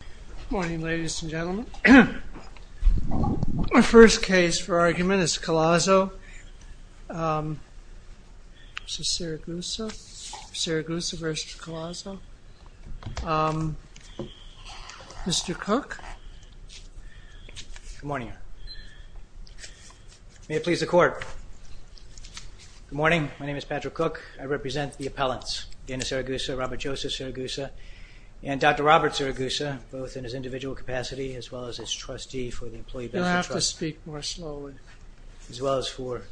Good morning ladies and gentlemen. My first case for argument is Collazo v. Siragusa. Siragusa v. Collazo. Mr. Cook. Good morning. May it please the court. Good morning. My name is Patrick Cook. I represent the appellants, Dennis Siragusa, Robert Joseph Siragusa, and Dr. Robert Siragusa, both in his individual capacity as well as his trustee for the Employee Benefit Trust. You'll have to speak more slowly. As well as for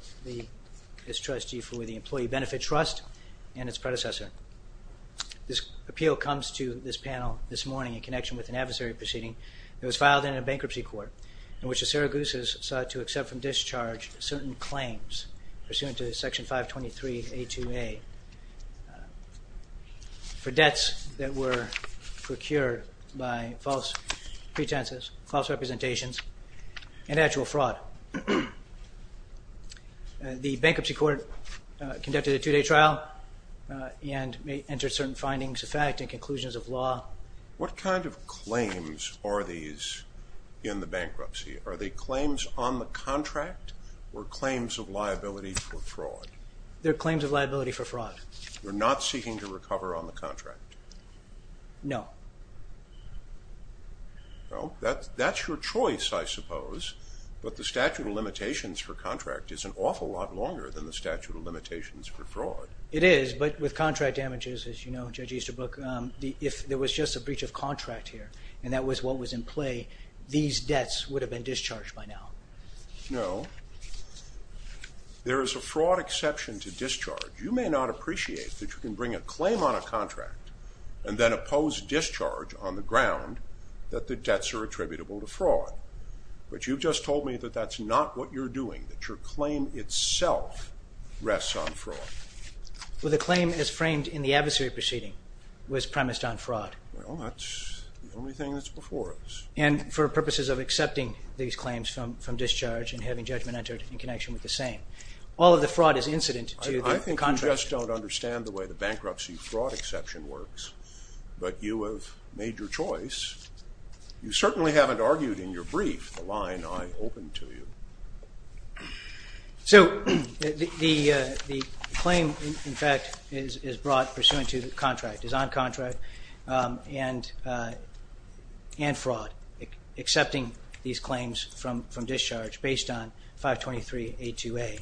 his trustee for the Employee Benefit Trust and its predecessor. This appeal comes to this panel this morning in connection with an adversary proceeding that was filed in a bankruptcy court in which the Siragusas sought to accept from discharge certain claims pursuant to Section 523A2A for debts that were procured by false pretenses, false representations, and actual fraud. The bankruptcy court conducted a two-day trial and entered certain findings of fact and conclusions of law. What kind of claims are these in the bankruptcy? Are they claims on the contract or claims of liability for fraud? They're claims of liability for fraud. You're not seeking to recover on the contract? No. Well, that's your choice, I suppose. But the statute of limitations for contract is an awful lot longer than the statute of limitations for fraud. It is, but with contract damages, as you know, Judge Easterbrook, if there was just a breach of contract here, and that was what was in play, these debts would have been discharged by now. No. There is a fraud exception to discharge. You may not appreciate that you can bring a claim on a contract and then oppose discharge on the ground that the debts are attributable to fraud. But you've just told me that that's not what you're doing, that your claim itself rests on fraud. Well, the claim as framed in the adversary proceeding was premised on fraud. Well, that's the only thing that's before us. And for purposes of accepting these claims from discharge and having judgment entered in connection with the same. All of the fraud is incident to the contract. I just don't understand the way the bankruptcy fraud exception works, but you have made your choice. You certainly haven't argued in your brief the line I opened to you. So the claim, in fact, is brought pursuant to the contract, is on contract, and fraud, accepting these claims from discharge based on 523A2A.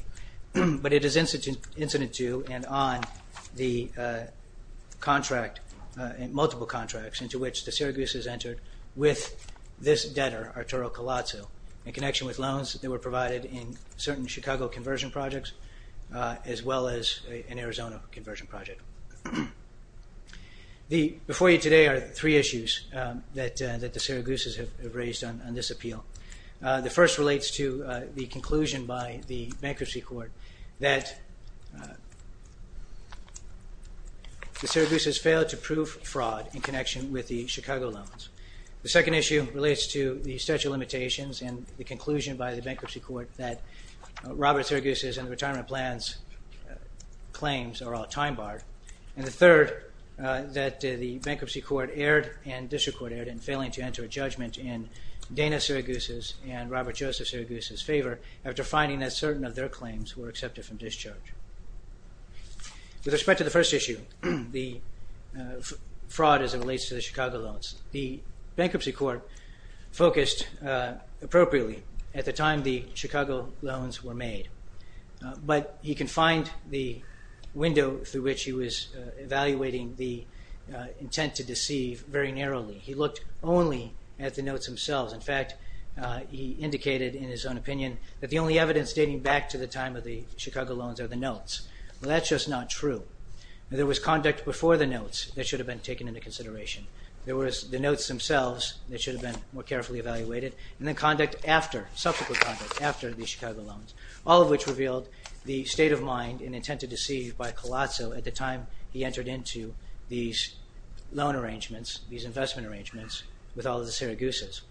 But it is incident to and on the contract, multiple contracts, into which the Syraguses entered with this debtor, Arturo Colazzo, in connection with loans that were provided in certain Chicago conversion projects, as well as an Arizona conversion project. Before you today are three issues that the Syraguses have raised on this appeal. The first relates to the conclusion by the Bankruptcy Court that the Syraguses failed to prove fraud in connection with the Chicago loans. The second issue relates to the statute of limitations and the conclusion by the Bankruptcy Court that Robert Syraguse's and the retirement plan's claims are all time-barred. And the third, that the Bankruptcy Court erred and District Court erred in failing to enter a judgment in Dana Syraguse's and Robert Joseph Syraguse's favor after finding that certain of their claims were accepted from discharge. With respect to the first issue, the fraud as it relates to the Chicago loans, the Bankruptcy Court focused appropriately at the time the Chicago loans were made. But you can find the window through which he was evaluating the intent to deceive very narrowly. He looked only at the notes themselves. In fact, he indicated in his own opinion that the only evidence dating back to the time of the Chicago loans are the notes. Well, that's just not true. There was conduct before the notes that should have been taken into consideration. There was the notes themselves that should have been more carefully evaluated. And then subsequent conduct after the Chicago loans, all of which revealed the state of mind and intent to deceive by Colazzo at the time he entered into these loan arrangements, these investment arrangements with all of the Syraguses.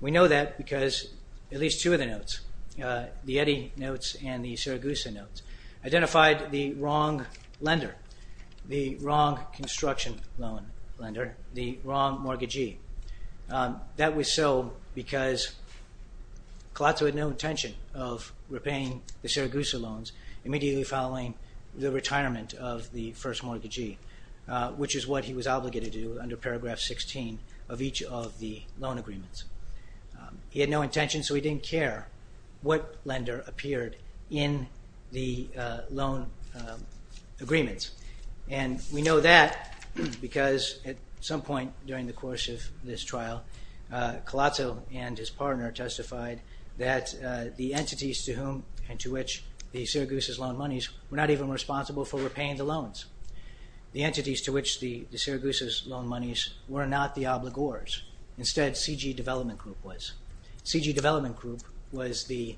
We know that because at least two of the notes, the Eddy notes and the Syraguse notes, identified the wrong lender, the wrong construction loan lender, the wrong mortgagee. That was so because Colazzo had no intention of repaying the Syraguse loans immediately following the retirement of the first mortgagee, which is what he was obligated to do under paragraph 16 of each of the loan agreements. He had no intention, so he didn't care what lender appeared in the loan agreements. And we know that because at some point during the course of this trial, Colazzo and his partner testified that the entities to whom and to which the Syraguses loaned monies were not even responsible for repaying the loans. The entities to which the Syraguses loaned monies were not the obligors. Instead, C.G. Development Group was. C.G. Development Group was the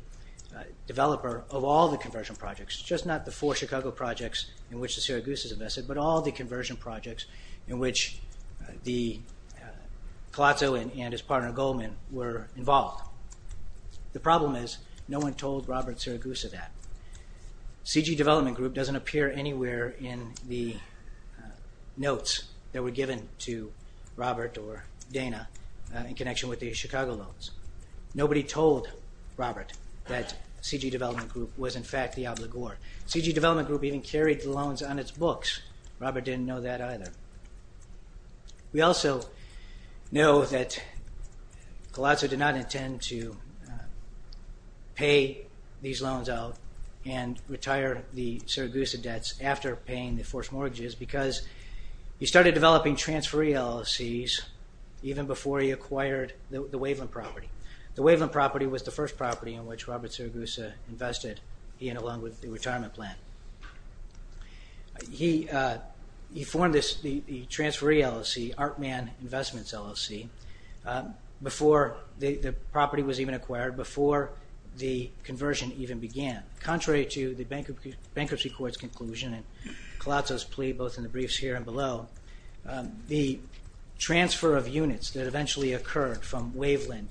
developer of all the conversion projects, just not the four Chicago projects in which the Syraguses invested, but all the conversion projects in which Colazzo and his partner Goldman were involved. The problem is no one told Robert Syraguse of that. C.G. Development Group doesn't appear anywhere in the notes that were given to Robert or Dana in connection with the Chicago loans. Nobody told Robert that C.G. Development Group was in fact the obligor. C.G. Development Group even carried the loans on its books. Robert didn't know that either. We also know that Colazzo did not intend to pay these loans out and retire the Syraguse debts after paying the forced mortgages because he started developing transferee LLCs even before he acquired the Waveland property. The Waveland property was the first property in which Robert Syraguse invested, he and along with the retirement plan. He formed the transferee LLC, Art-Man Investments LLC, before the property was even acquired, before the conversion even began. Contrary to the bankruptcy court's conclusion and Colazzo's plea both in the briefs here and below, the transfer of units that eventually occurred from Waveland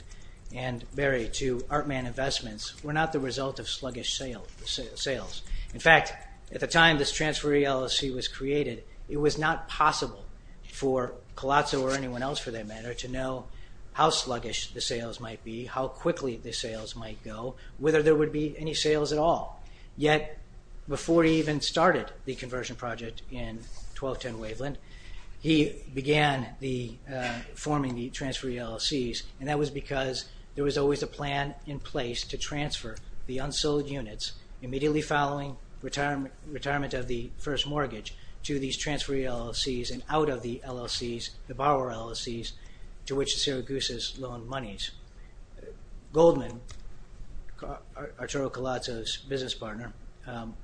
and Berry to Art-Man Investments were not the result of sluggish sales. In fact, at the time this transferee LLC was created, it was not possible for Colazzo or anyone else for that matter to know how sluggish the sales might be, how quickly the sales might go, whether there would be any sales at all. Yet before he even started the conversion project in 1210 Waveland, he began forming the transferee LLCs and that was because there was always a plan in place to transfer the unsold units immediately following retirement of the first mortgage to these transferee LLCs and out of the LLCs, the borrower LLCs, to which the Syraguses loaned monies. Goldman, Arturo Colazzo's business partner,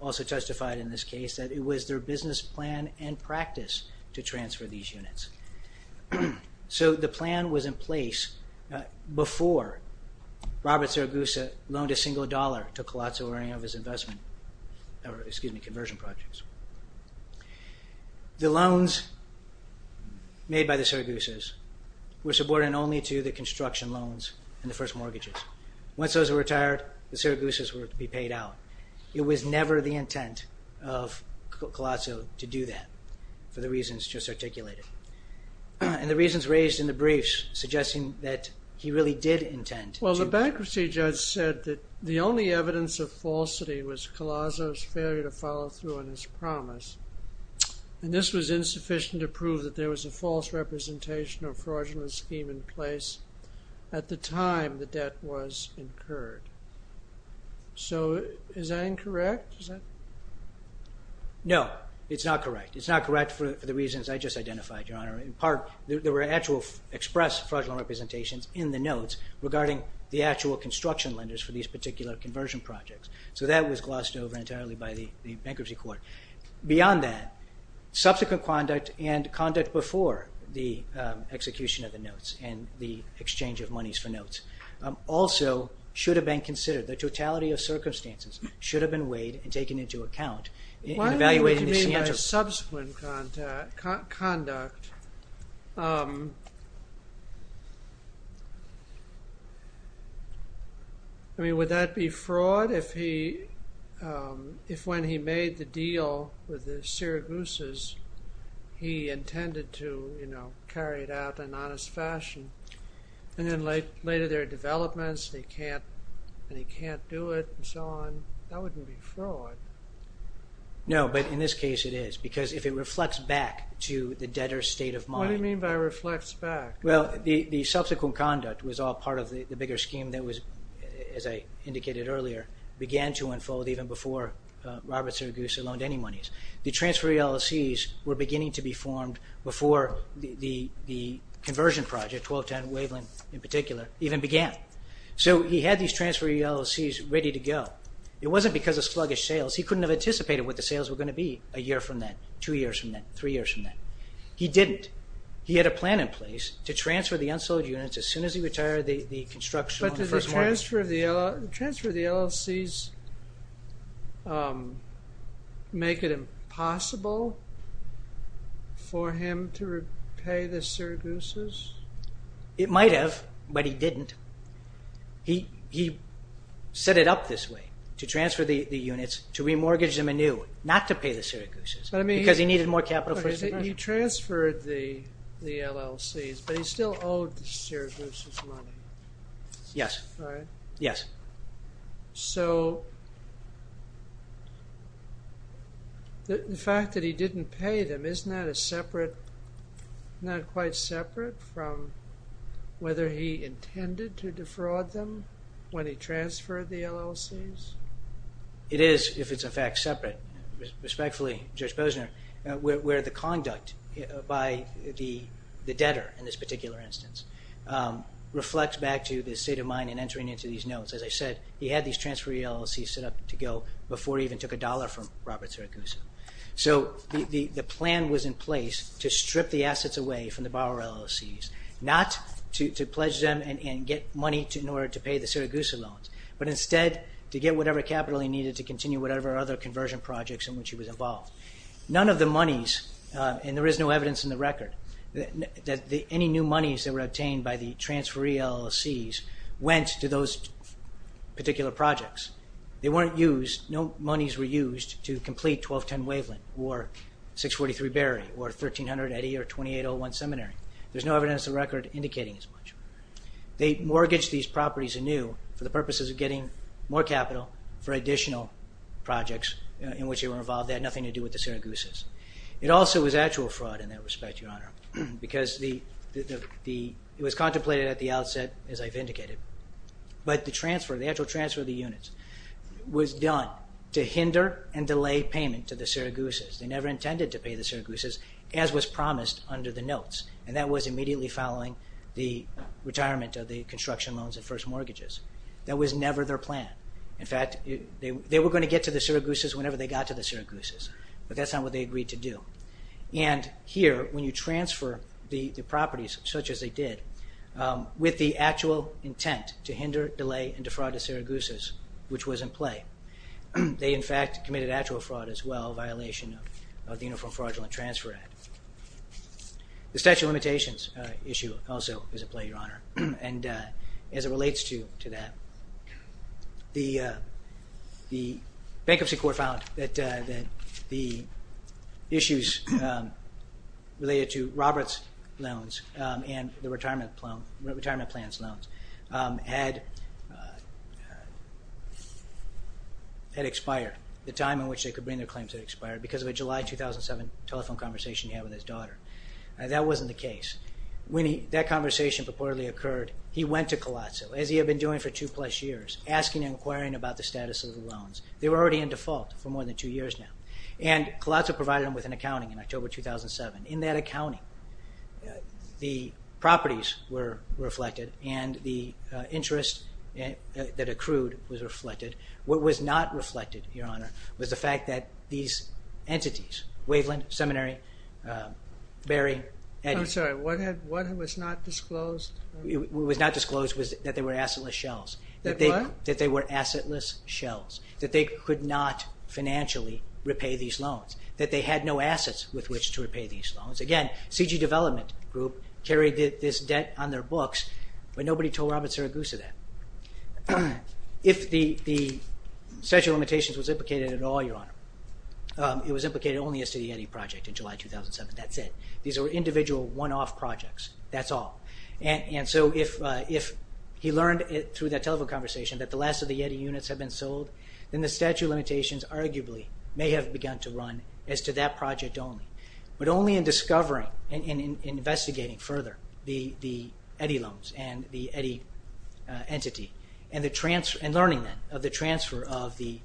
also testified in this case that it was their business plan and practice to transfer these units. So the plan was in place before Robert Syraguse loaned a single dollar to Colazzo or any of his investment, excuse me, conversion projects. The loans made by the Syraguses were subordinate only to the construction loans and the first mortgages. Once those were retired, the Syraguses were to be paid out. It was never the intent of Colazzo to do that for the reasons just articulated and the reasons raised in the briefs suggesting that he really did intend to... And this was insufficient to prove that there was a false representation of fraudulent scheme in place at the time the debt was incurred. So is that incorrect? No, it's not correct. It's not correct for the reasons I just identified, Your Honor. In part, there were actual express fraudulent representations in the notes regarding the actual construction lenders for these particular conversion projects. So that was glossed over entirely by the bankruptcy court. Beyond that, subsequent conduct and conduct before the execution of the notes and the exchange of monies for notes also should have been considered. The totality of circumstances should have been weighed and taken into account in evaluating the... As far as subsequent conduct, would that be fraud if when he made the deal with the Syraguses, he intended to carry it out in honest fashion? And then later there are developments and he can't do it and so on. That wouldn't be fraud. No, but in this case it is because if it reflects back to the debtor's state of mind... What do you mean by reflects back? Well, the subsequent conduct was all part of the bigger scheme that was, as I indicated earlier, began to unfold even before Robert Syraguse loaned any monies. The transfer ELCs were beginning to be formed before the conversion project, 1210 Waveland in particular, even began. So he had these transfer ELCs ready to go. It wasn't because of sluggish sales. He couldn't have anticipated what the sales were going to be a year from then, two years from then, three years from then. He didn't. He had a plan in place to transfer the unsold units as soon as he retired the construction on the first market. But did the transfer of the ELCs make it impossible for him to repay the Syraguses? It might have, but he didn't. He set it up this way, to transfer the units, to remortgage them anew, not to pay the Syraguses, because he needed more capital for his investment. He transferred the ELCs, but he still owed the Syraguses money. Yes. Right? Yes. So the fact that he didn't pay them, isn't that a separate, not quite separate from whether he intended to defraud them when he transferred the ELCs? It is, if it's in fact separate. Respectfully, Judge Posner, where the conduct by the debtor in this particular instance reflects back to the state of mind in entering into these notes. As I said, he had these transfer ELCs set up to go before he even took a dollar from Robert Syraguse. So the plan was in place to strip the assets away from the borrower ELCs, not to pledge them and get money in order to pay the Syraguse loans, but instead to get whatever capital he needed to continue whatever other conversion projects in which he was involved. None of the monies, and there is no evidence in the record, that any new monies that were obtained by the transfer ELCs went to those particular projects. They weren't used, no monies were used to complete 1210 Waveland or 643 Berry or 1300 Eddy or 2801 Seminary. There's no evidence in the record indicating as much. They mortgaged these properties anew for the purposes of getting more capital for additional projects in which they were involved. They had nothing to do with the Syraguses. It also was actual fraud in that respect, Your Honor, because it was contemplated at the outset, as I've indicated, but the actual transfer of the units was done to hinder and delay payment to the Syraguses. They never intended to pay the Syraguses, as was promised under the notes, and that was immediately following the retirement of the construction loans and first mortgages. That was never their plan. In fact, they were going to get to the Syraguses whenever they got to the Syraguses, but that's not what they agreed to do. And here, when you transfer the properties, such as they did, with the actual intent to hinder, delay, and defraud the Syraguses, which was in play, they in fact committed actual fraud as well, a violation of the Uniform Fraudulent Transfer Act. The statute of limitations issue also is at play, Your Honor, and as it relates to that, the Bankruptcy Court found that the issues related to Roberts loans and the retirement plans loans had expired, the time in which they could bring their claims had expired because of a July 2007 telephone conversation he had with his daughter. That wasn't the case. When that conversation purportedly occurred, he went to Colosso, as he had been doing for two-plus years, asking and inquiring about the status of the loans. They were already in default for more than two years now. And Colosso provided them with an accounting in October 2007. In that accounting, the properties were reflected and the interest that accrued was reflected. What was not reflected, Your Honor, was the fact that these entities, Waveland Seminary, Berry, and— I'm sorry. What was not disclosed? What was not disclosed was that they were assetless shells. That what? That they were assetless shells, that they could not financially repay these loans, that they had no assets with which to repay these loans. Again, CG Development Group carried this debt on their books, but nobody told Robert Syraguse that. If the statute of limitations was implicated at all, Your Honor, it was implicated only as to the YETI project in July 2007. That's it. These were individual, one-off projects. That's all. And so if he learned through that telephone conversation that the last of the YETI units had been sold, then the statute of limitations arguably may have begun to run as to that project only. But only in discovering and investigating further the YETI loans and the YETI entity and learning then of the transfer of the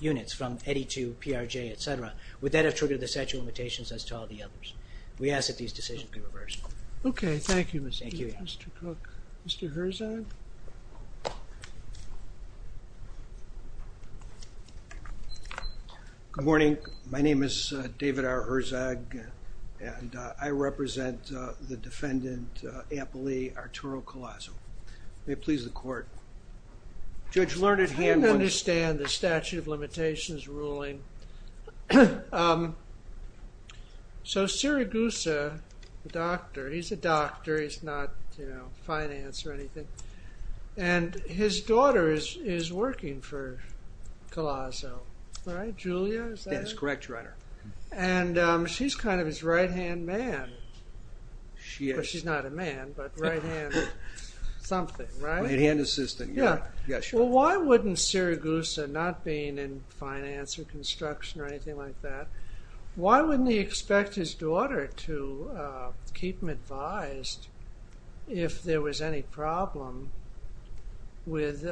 units from YETI to PRJ, et cetera, would that have triggered the statute of limitations as to all the others. We ask that these decisions be reversed. Okay. Thank you, Mr. Cook. Thank you, Your Honor. Mr. Herzog? Good morning. My name is David R. Herzog, and I represent the defendant, Ampli Arturo Collazo. May it please the Court. Judge Lerner, do you have a motion? I don't understand the statute of limitations ruling. So Siragusa, the doctor, he's a doctor. He's not, you know, finance or anything. And his daughter is working for Collazo, right? Julia, is that it? That is correct, Your Honor. And she's kind of his right-hand man. She is. She's not a man, but right-handed something, right? Right-hand assistant. Yeah. Well, why wouldn't Siragusa, not being in finance or construction or anything like that, why wouldn't he expect his daughter to keep him advised if there was any problem with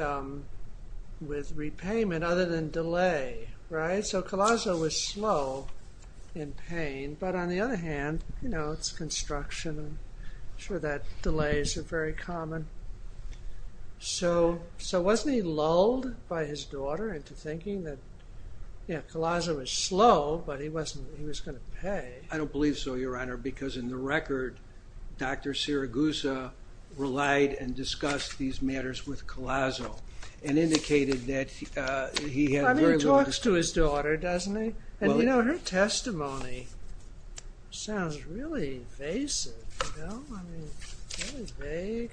repayment other than delay, right? So Collazo was slow in paying. But on the other hand, you know, it's construction. I'm sure that delays are very common. So wasn't he lulled by his daughter into thinking that, you know, Collazo was slow, but he was going to pay? I don't believe so, Your Honor, because in the record, Dr. Siragusa relied and discussed these matters with Collazo and indicated that he had very little to say. I mean, he talks to his daughter, doesn't he? And, you know, her testimony sounds really evasive, you know? I mean, that is vague.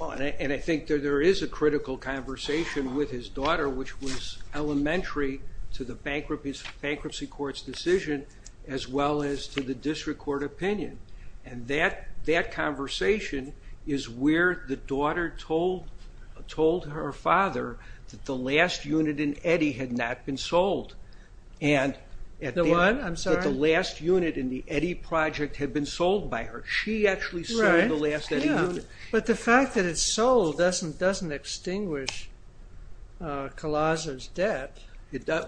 And I think that there is a critical conversation with his daughter, which was elementary to the bankruptcy court's decision as well as to the district court opinion. And that conversation is where the daughter told her father that the last unit in Eddy had not been sold. The one? I'm sorry? The last unit in the Eddy project had been sold by her. She actually sold the last Eddy unit. But the fact that it's sold doesn't extinguish Collazo's debt.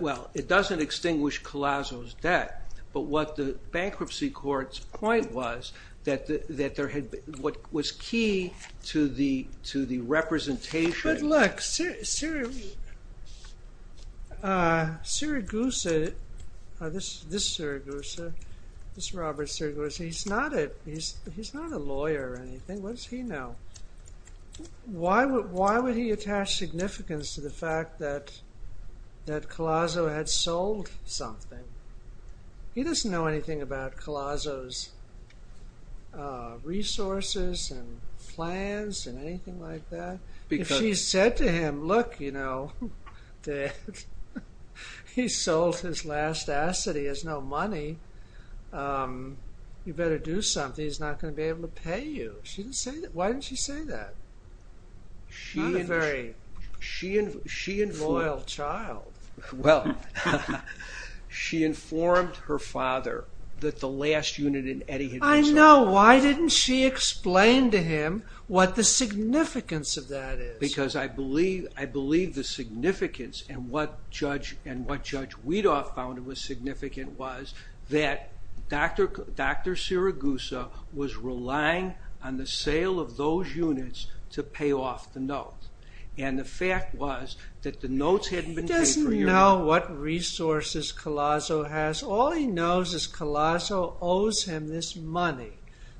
Well, it doesn't extinguish Collazo's debt. But what the bankruptcy court's point was, that what was key to the representation... Siragusa, this Siragusa, this Robert Siragusa, he's not a lawyer or anything. What does he know? Why would he attach significance to the fact that Collazo had sold something? He doesn't know anything about Collazo's resources and plans and anything like that. If she said to him, look, you know, that he sold his last asset, he has no money, you better do something, he's not going to be able to pay you. Why didn't she say that? She's not a very loyal child. Well, she informed her father that the last unit in Eddy had been sold. I know. Why didn't she explain to him what the significance of that is? Because I believe the significance and what Judge Weedoff found was significant was that Dr. Siragusa was relying on the sale of those units to pay off the note. And the fact was that the notes hadn't been paid for years. He doesn't know what resources Collazo has. All he knows is Collazo owes him this money.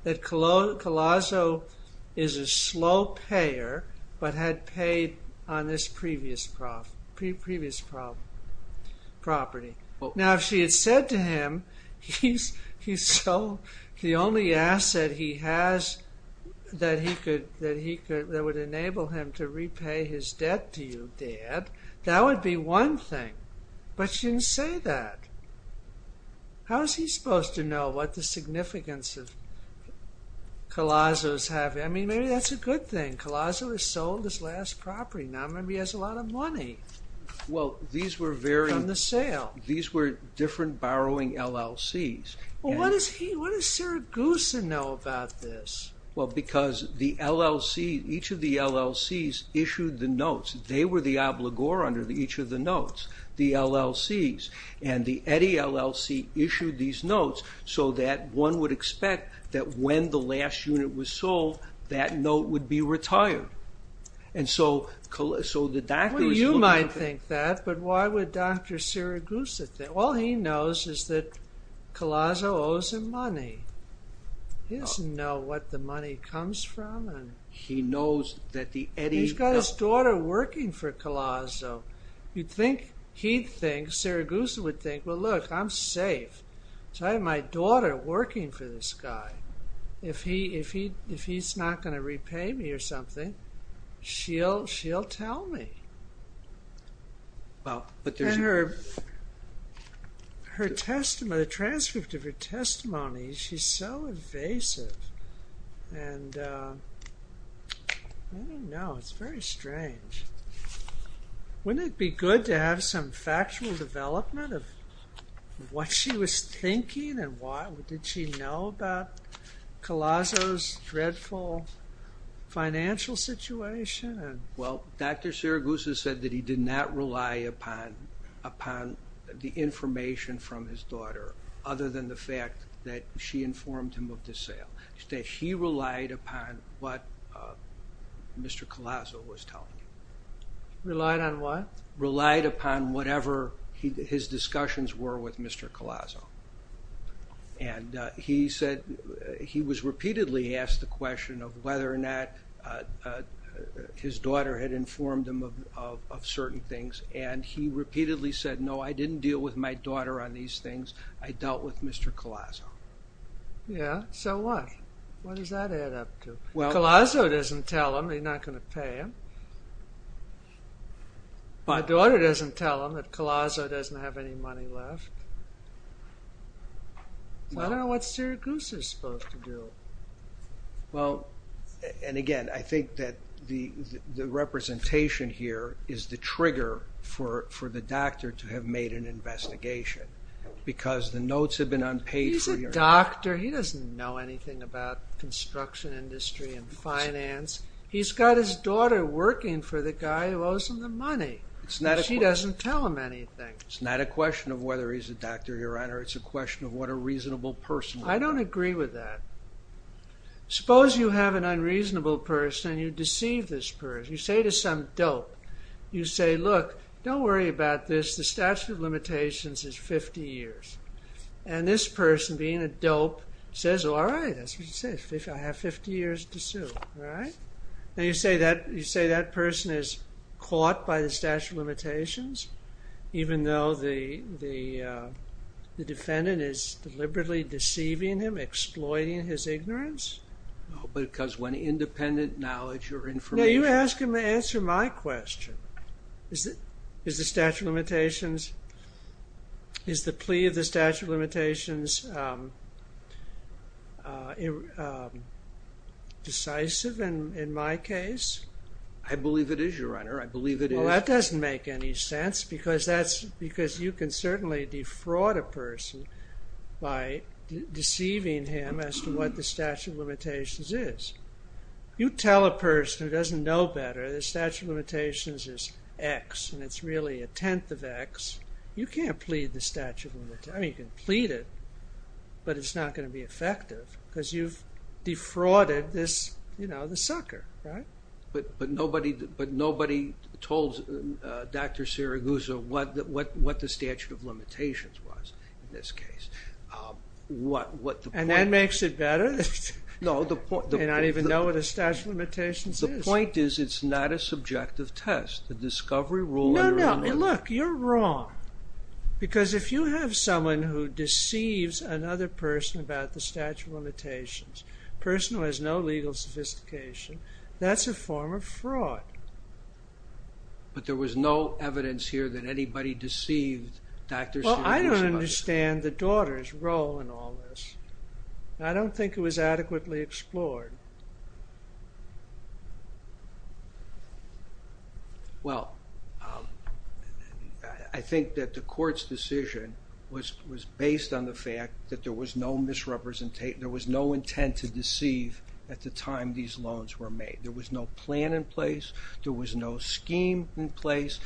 That Collazo is a slow payer but had paid on this previous property. Now, if she had said to him, he sold the only asset he has that would enable him to repay his debt to you, Dad, that would be one thing. But she didn't say that. How is he supposed to know what the significance of Collazo's having? I mean, maybe that's a good thing. Collazo has sold his last property. Now maybe he has a lot of money from the sale. Well, these were different borrowing LLCs. Well, what does Siragusa know about this? Well, because each of the LLCs issued the notes. They were the obligor under each of the notes, the LLCs. And the Eddy LLC issued these notes so that one would expect that when the last unit was sold that note would be retired. Well, you might think that, but why would Dr. Siragusa think that? All he knows is that Collazo owes him money. He doesn't know what the money comes from. He's got his daughter working for Collazo. You'd think he'd think, Siragusa would think, well, look, I'm safe. So I have my daughter working for this guy. If he's not going to repay me or something, she'll tell me. The transcript of her testimony, she's so evasive. And I don't know, it's very strange. Wouldn't it be good to have some factual development of what she was thinking and what did she know about Collazo's dreadful financial situation? Well, Dr. Siragusa said that he did not rely upon the information from his daughter other than the fact that she informed him of the sale. He relied upon what Mr. Collazo was telling him. Relied on what? Relied upon whatever his discussions were with Mr. Collazo. And he said he was repeatedly asked the question of whether or not his daughter had informed him of certain things, and he repeatedly said, no, I didn't deal with my daughter on these things. I dealt with Mr. Collazo. Yeah, so what? What does that add up to? Collazo doesn't tell him he's not going to pay him. My daughter doesn't tell him that Collazo doesn't have any money left. I don't know what Siragusa's supposed to do. Well, and again, I think that the representation here is the trigger for the doctor to have made an investigation because the notes have been unpaid for your... He's a doctor. He doesn't know anything about construction industry and finance. He's got his daughter working for the guy who owes him the money. She doesn't tell him anything. It's not a question of whether he's a doctor, Your Honor. It's a question of what a reasonable person... I don't agree with that. Suppose you have an unreasonable person and you deceive this person. You say to some dope, you say, look, don't worry about this. The statute of limitations is 50 years. And this person, being a dope, says, all right, that's what you say. I have 50 years to sue. Now, you say that person is caught by the statute of limitations even though the defendant is deliberately deceiving him, exploiting his ignorance? No, because when independent knowledge or information... No, you ask him to answer my question. Is the statute of limitations... Is the plea of the statute of limitations decisive in my case? I believe it is, Your Honor. I believe it is. Well, that doesn't make any sense because you can certainly defraud a person by deceiving him as to what the statute of limitations is. You tell a person who doesn't know better the statute of limitations is X and it's really a tenth of X. You can't plead the statute of limitations. I mean, you can plead it, but it's not going to be effective because you've defrauded this sucker, right? But nobody told Dr. Siragusa what the statute of limitations was in this case. And that makes it better? They don't even know what a statute of limitations is. The point is it's not a subjective test. The discovery rule... No, no. Look, you're wrong. Because if you have someone who deceives another person about the statute of limitations, a person who has no legal sophistication, that's a form of fraud. But there was no evidence here that anybody deceived Dr. Siragusa. Well, I don't understand the daughter's role in all this. I don't think it was adequately explored. Well, I think that the court's decision was based on the fact that there was no misrepresentation, there was no intent to deceive at the time these loans were made. There was no plan in place. There was no scheme in place.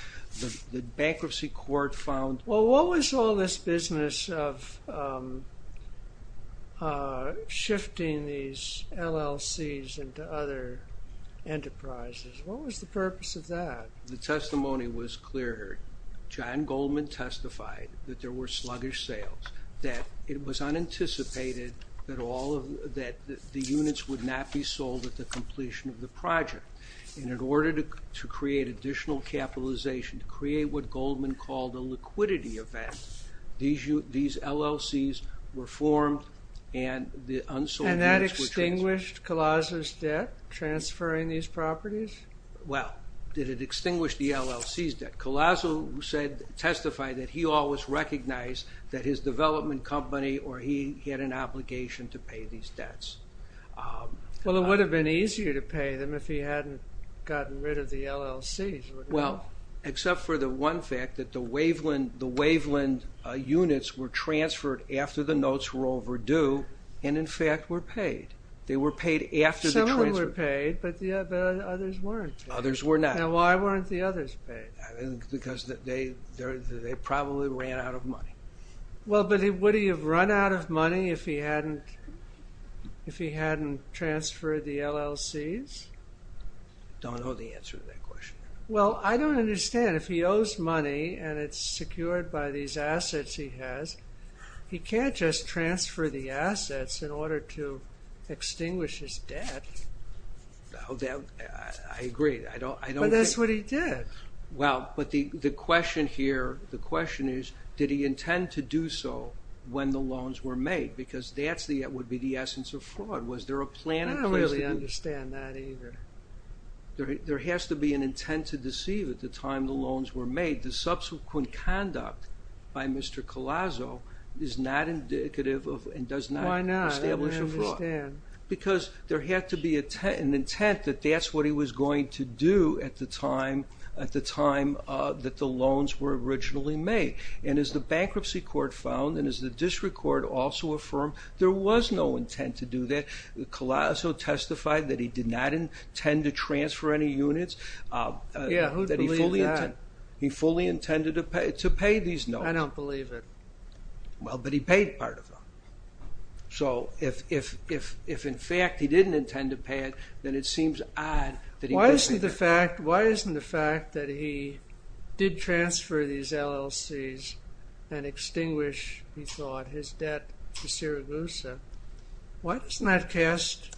The bankruptcy court found... Well, what was all this business of shifting these LLCs into other enterprises? What was the purpose of that? The testimony was clear. John Goldman testified that there were sluggish sales, that it was unanticipated that the units would not be sold at the completion of the project. And in order to create additional capitalization, to create what Goldman called a liquidity event, these LLCs were formed and the unsold units were transferred. And that extinguished Collazo's debt, transferring these properties? Well, did it extinguish the LLC's debt? Collazo testified that he always recognized that his development company, or he had an obligation to pay these debts. Well, it would have been easier to pay them if he hadn't gotten rid of the LLCs. Well, except for the one fact that the Waveland units were transferred after the notes were overdue, and in fact were paid. Some of them were paid, but others weren't. Others were not. Now, why weren't the others paid? Because they probably ran out of money. Well, but would he have run out of money if he hadn't transferred the LLCs? Don't know the answer to that question. Well, I don't understand. If he owes money and it's secured by these assets he has, he can't just transfer the assets in order to extinguish his debt. I agree. But that's what he did. Well, but the question here, the question is, did he intend to do so when the loans were made? Because that would be the essence of fraud. I don't really understand that either. There has to be an intent to deceive at the time the loans were made. The subsequent conduct by Mr. Collazo is not indicative and does not establish a fraud. Why not? I don't understand. Because there had to be an intent that that's what he was going to do at the time that the loans were originally made. And as the Bankruptcy Court found, and as the District Court also affirmed, there was no intent to do that. Collazo testified that he did not intend to transfer any units. Yeah, who'd believe that? He fully intended to pay these loans. I don't believe it. Well, but he paid part of them. So if in fact he didn't intend to pay it, then it seems odd that he didn't. Why isn't the fact that he did transfer these LLCs and extinguish, he thought, his debt to Siragusa, why doesn't that cast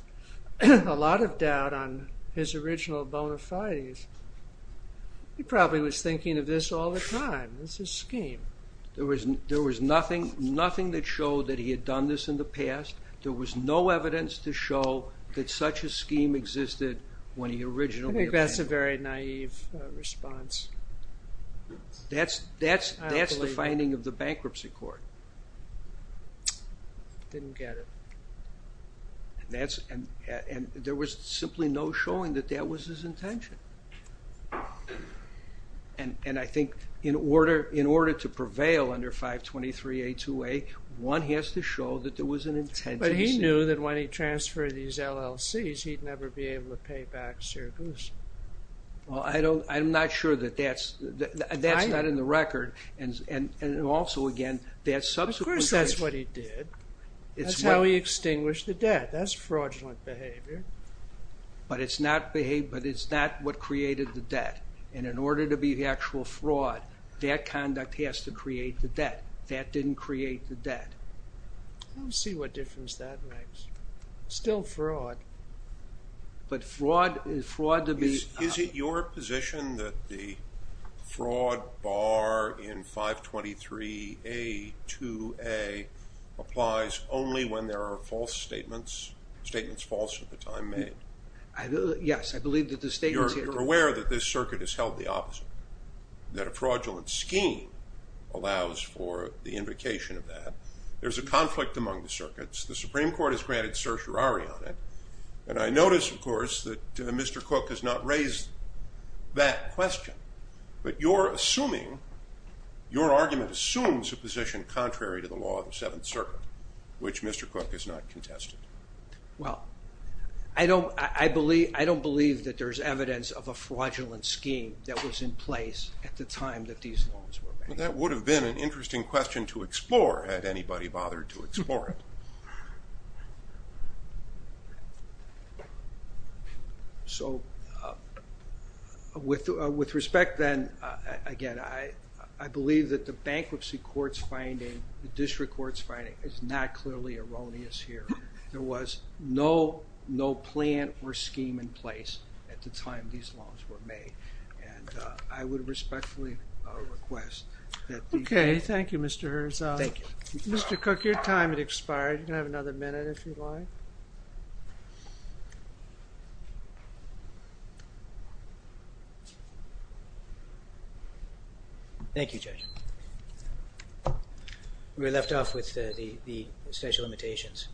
a lot of doubt on his original bona fides? He probably was thinking of this all the time. It's his scheme. There was nothing that showed that he had done this in the past. There was no evidence to show that such a scheme existed when he originally obtained them. I think that's a very naive response. That's the finding of the Bankruptcy Court. Didn't get it. And there was simply no showing that that was his intention. And I think in order to prevail under 523A2A, one has to show that there was an intention. But he knew that when he transferred these LLCs, he'd never be able to pay back Siragusa. Well, I'm not sure that that's not in the record. And also, again, that subsequently... Of course that's what he did. That's how he extinguished the debt. That's fraudulent behavior. But it's not what created the debt. And in order to be the actual fraud, that conduct has to create the debt. That didn't create the debt. We'll see what difference that makes. Still fraud. But fraud to be... Is it your position that the fraud bar in 523A2A applies only when there are false statements, statements false at the time made? Yes, I believe that the statements here... You're aware that this circuit has held the opposite, that a fraudulent scheme allows for the invocation of that. There's a conflict among the circuits. The Supreme Court has granted certiorari on it. And I notice, of course, that Mr. Cook has not raised that question. But you're assuming... Your argument assumes a position contrary to the law of the Seventh Circuit, which Mr. Cook has not contested. Well, I don't believe that there's evidence of a fraudulent scheme that was in place at the time that these laws were made. Well, that would have been an interesting question to explore had anybody bothered to explore it. So with respect, then, again, I believe that the bankruptcy court's finding, the district court's finding, is not clearly erroneous here. There was no plan or scheme in place at the time these laws were made. And I would respectfully request that... Okay, thank you, Mr. Herzog. Thank you. Mr. Cook, your time has expired. You can have another minute if you'd like. Thank you, Judge. We're left off with the statute of limitations.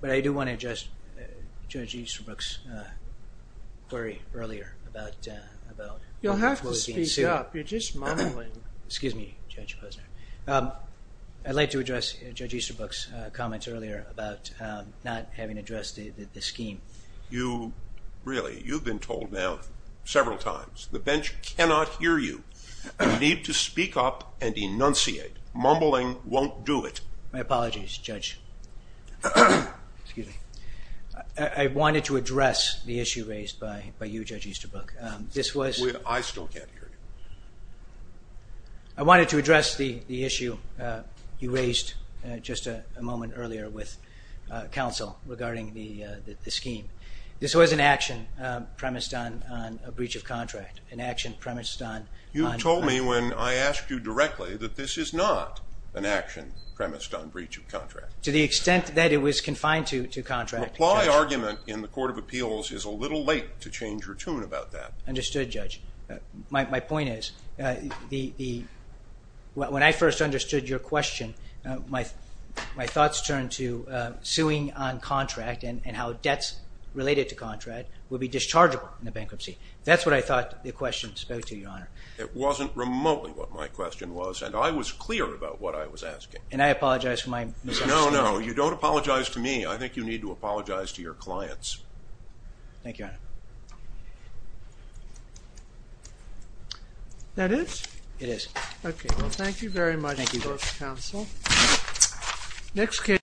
But I do want to address Judge Easterbrook's query earlier about... You'll have to speak up. You're just mumbling. Excuse me, Judge Posner. I'd like to address Judge Easterbrook's comments earlier about not having addressed the scheme. Really, you've been told now several times, the bench cannot hear you. You need to speak up and enunciate. Mumbling won't do it. My apologies, Judge. I wanted to address the issue raised by you, Judge Easterbrook. This was... I still can't hear you. I wanted to address the issue you raised just a moment earlier with counsel regarding the scheme. This was an action premised on a breach of contract, an action premised on... You told me when I asked you directly that this is not an action premised on breach of contract. To the extent that it was confined to contract... The implied argument in the Court of Appeals is a little late to change your tune about that. Understood, Judge. My point is, when I first understood your question, my thoughts turned to suing on contract and how debts related to contract would be dischargeable in a bankruptcy. That's what I thought the question spoke to, Your Honour. It wasn't remotely what my question was, and I was clear about what I was asking. And I apologise for my misunderstanding. No, no, you don't apologise to me. I think you need to apologise to your clients. Thank you, Your Honour. That is? It is. Okay, well, thank you very much, Judge Counsel. Thank you.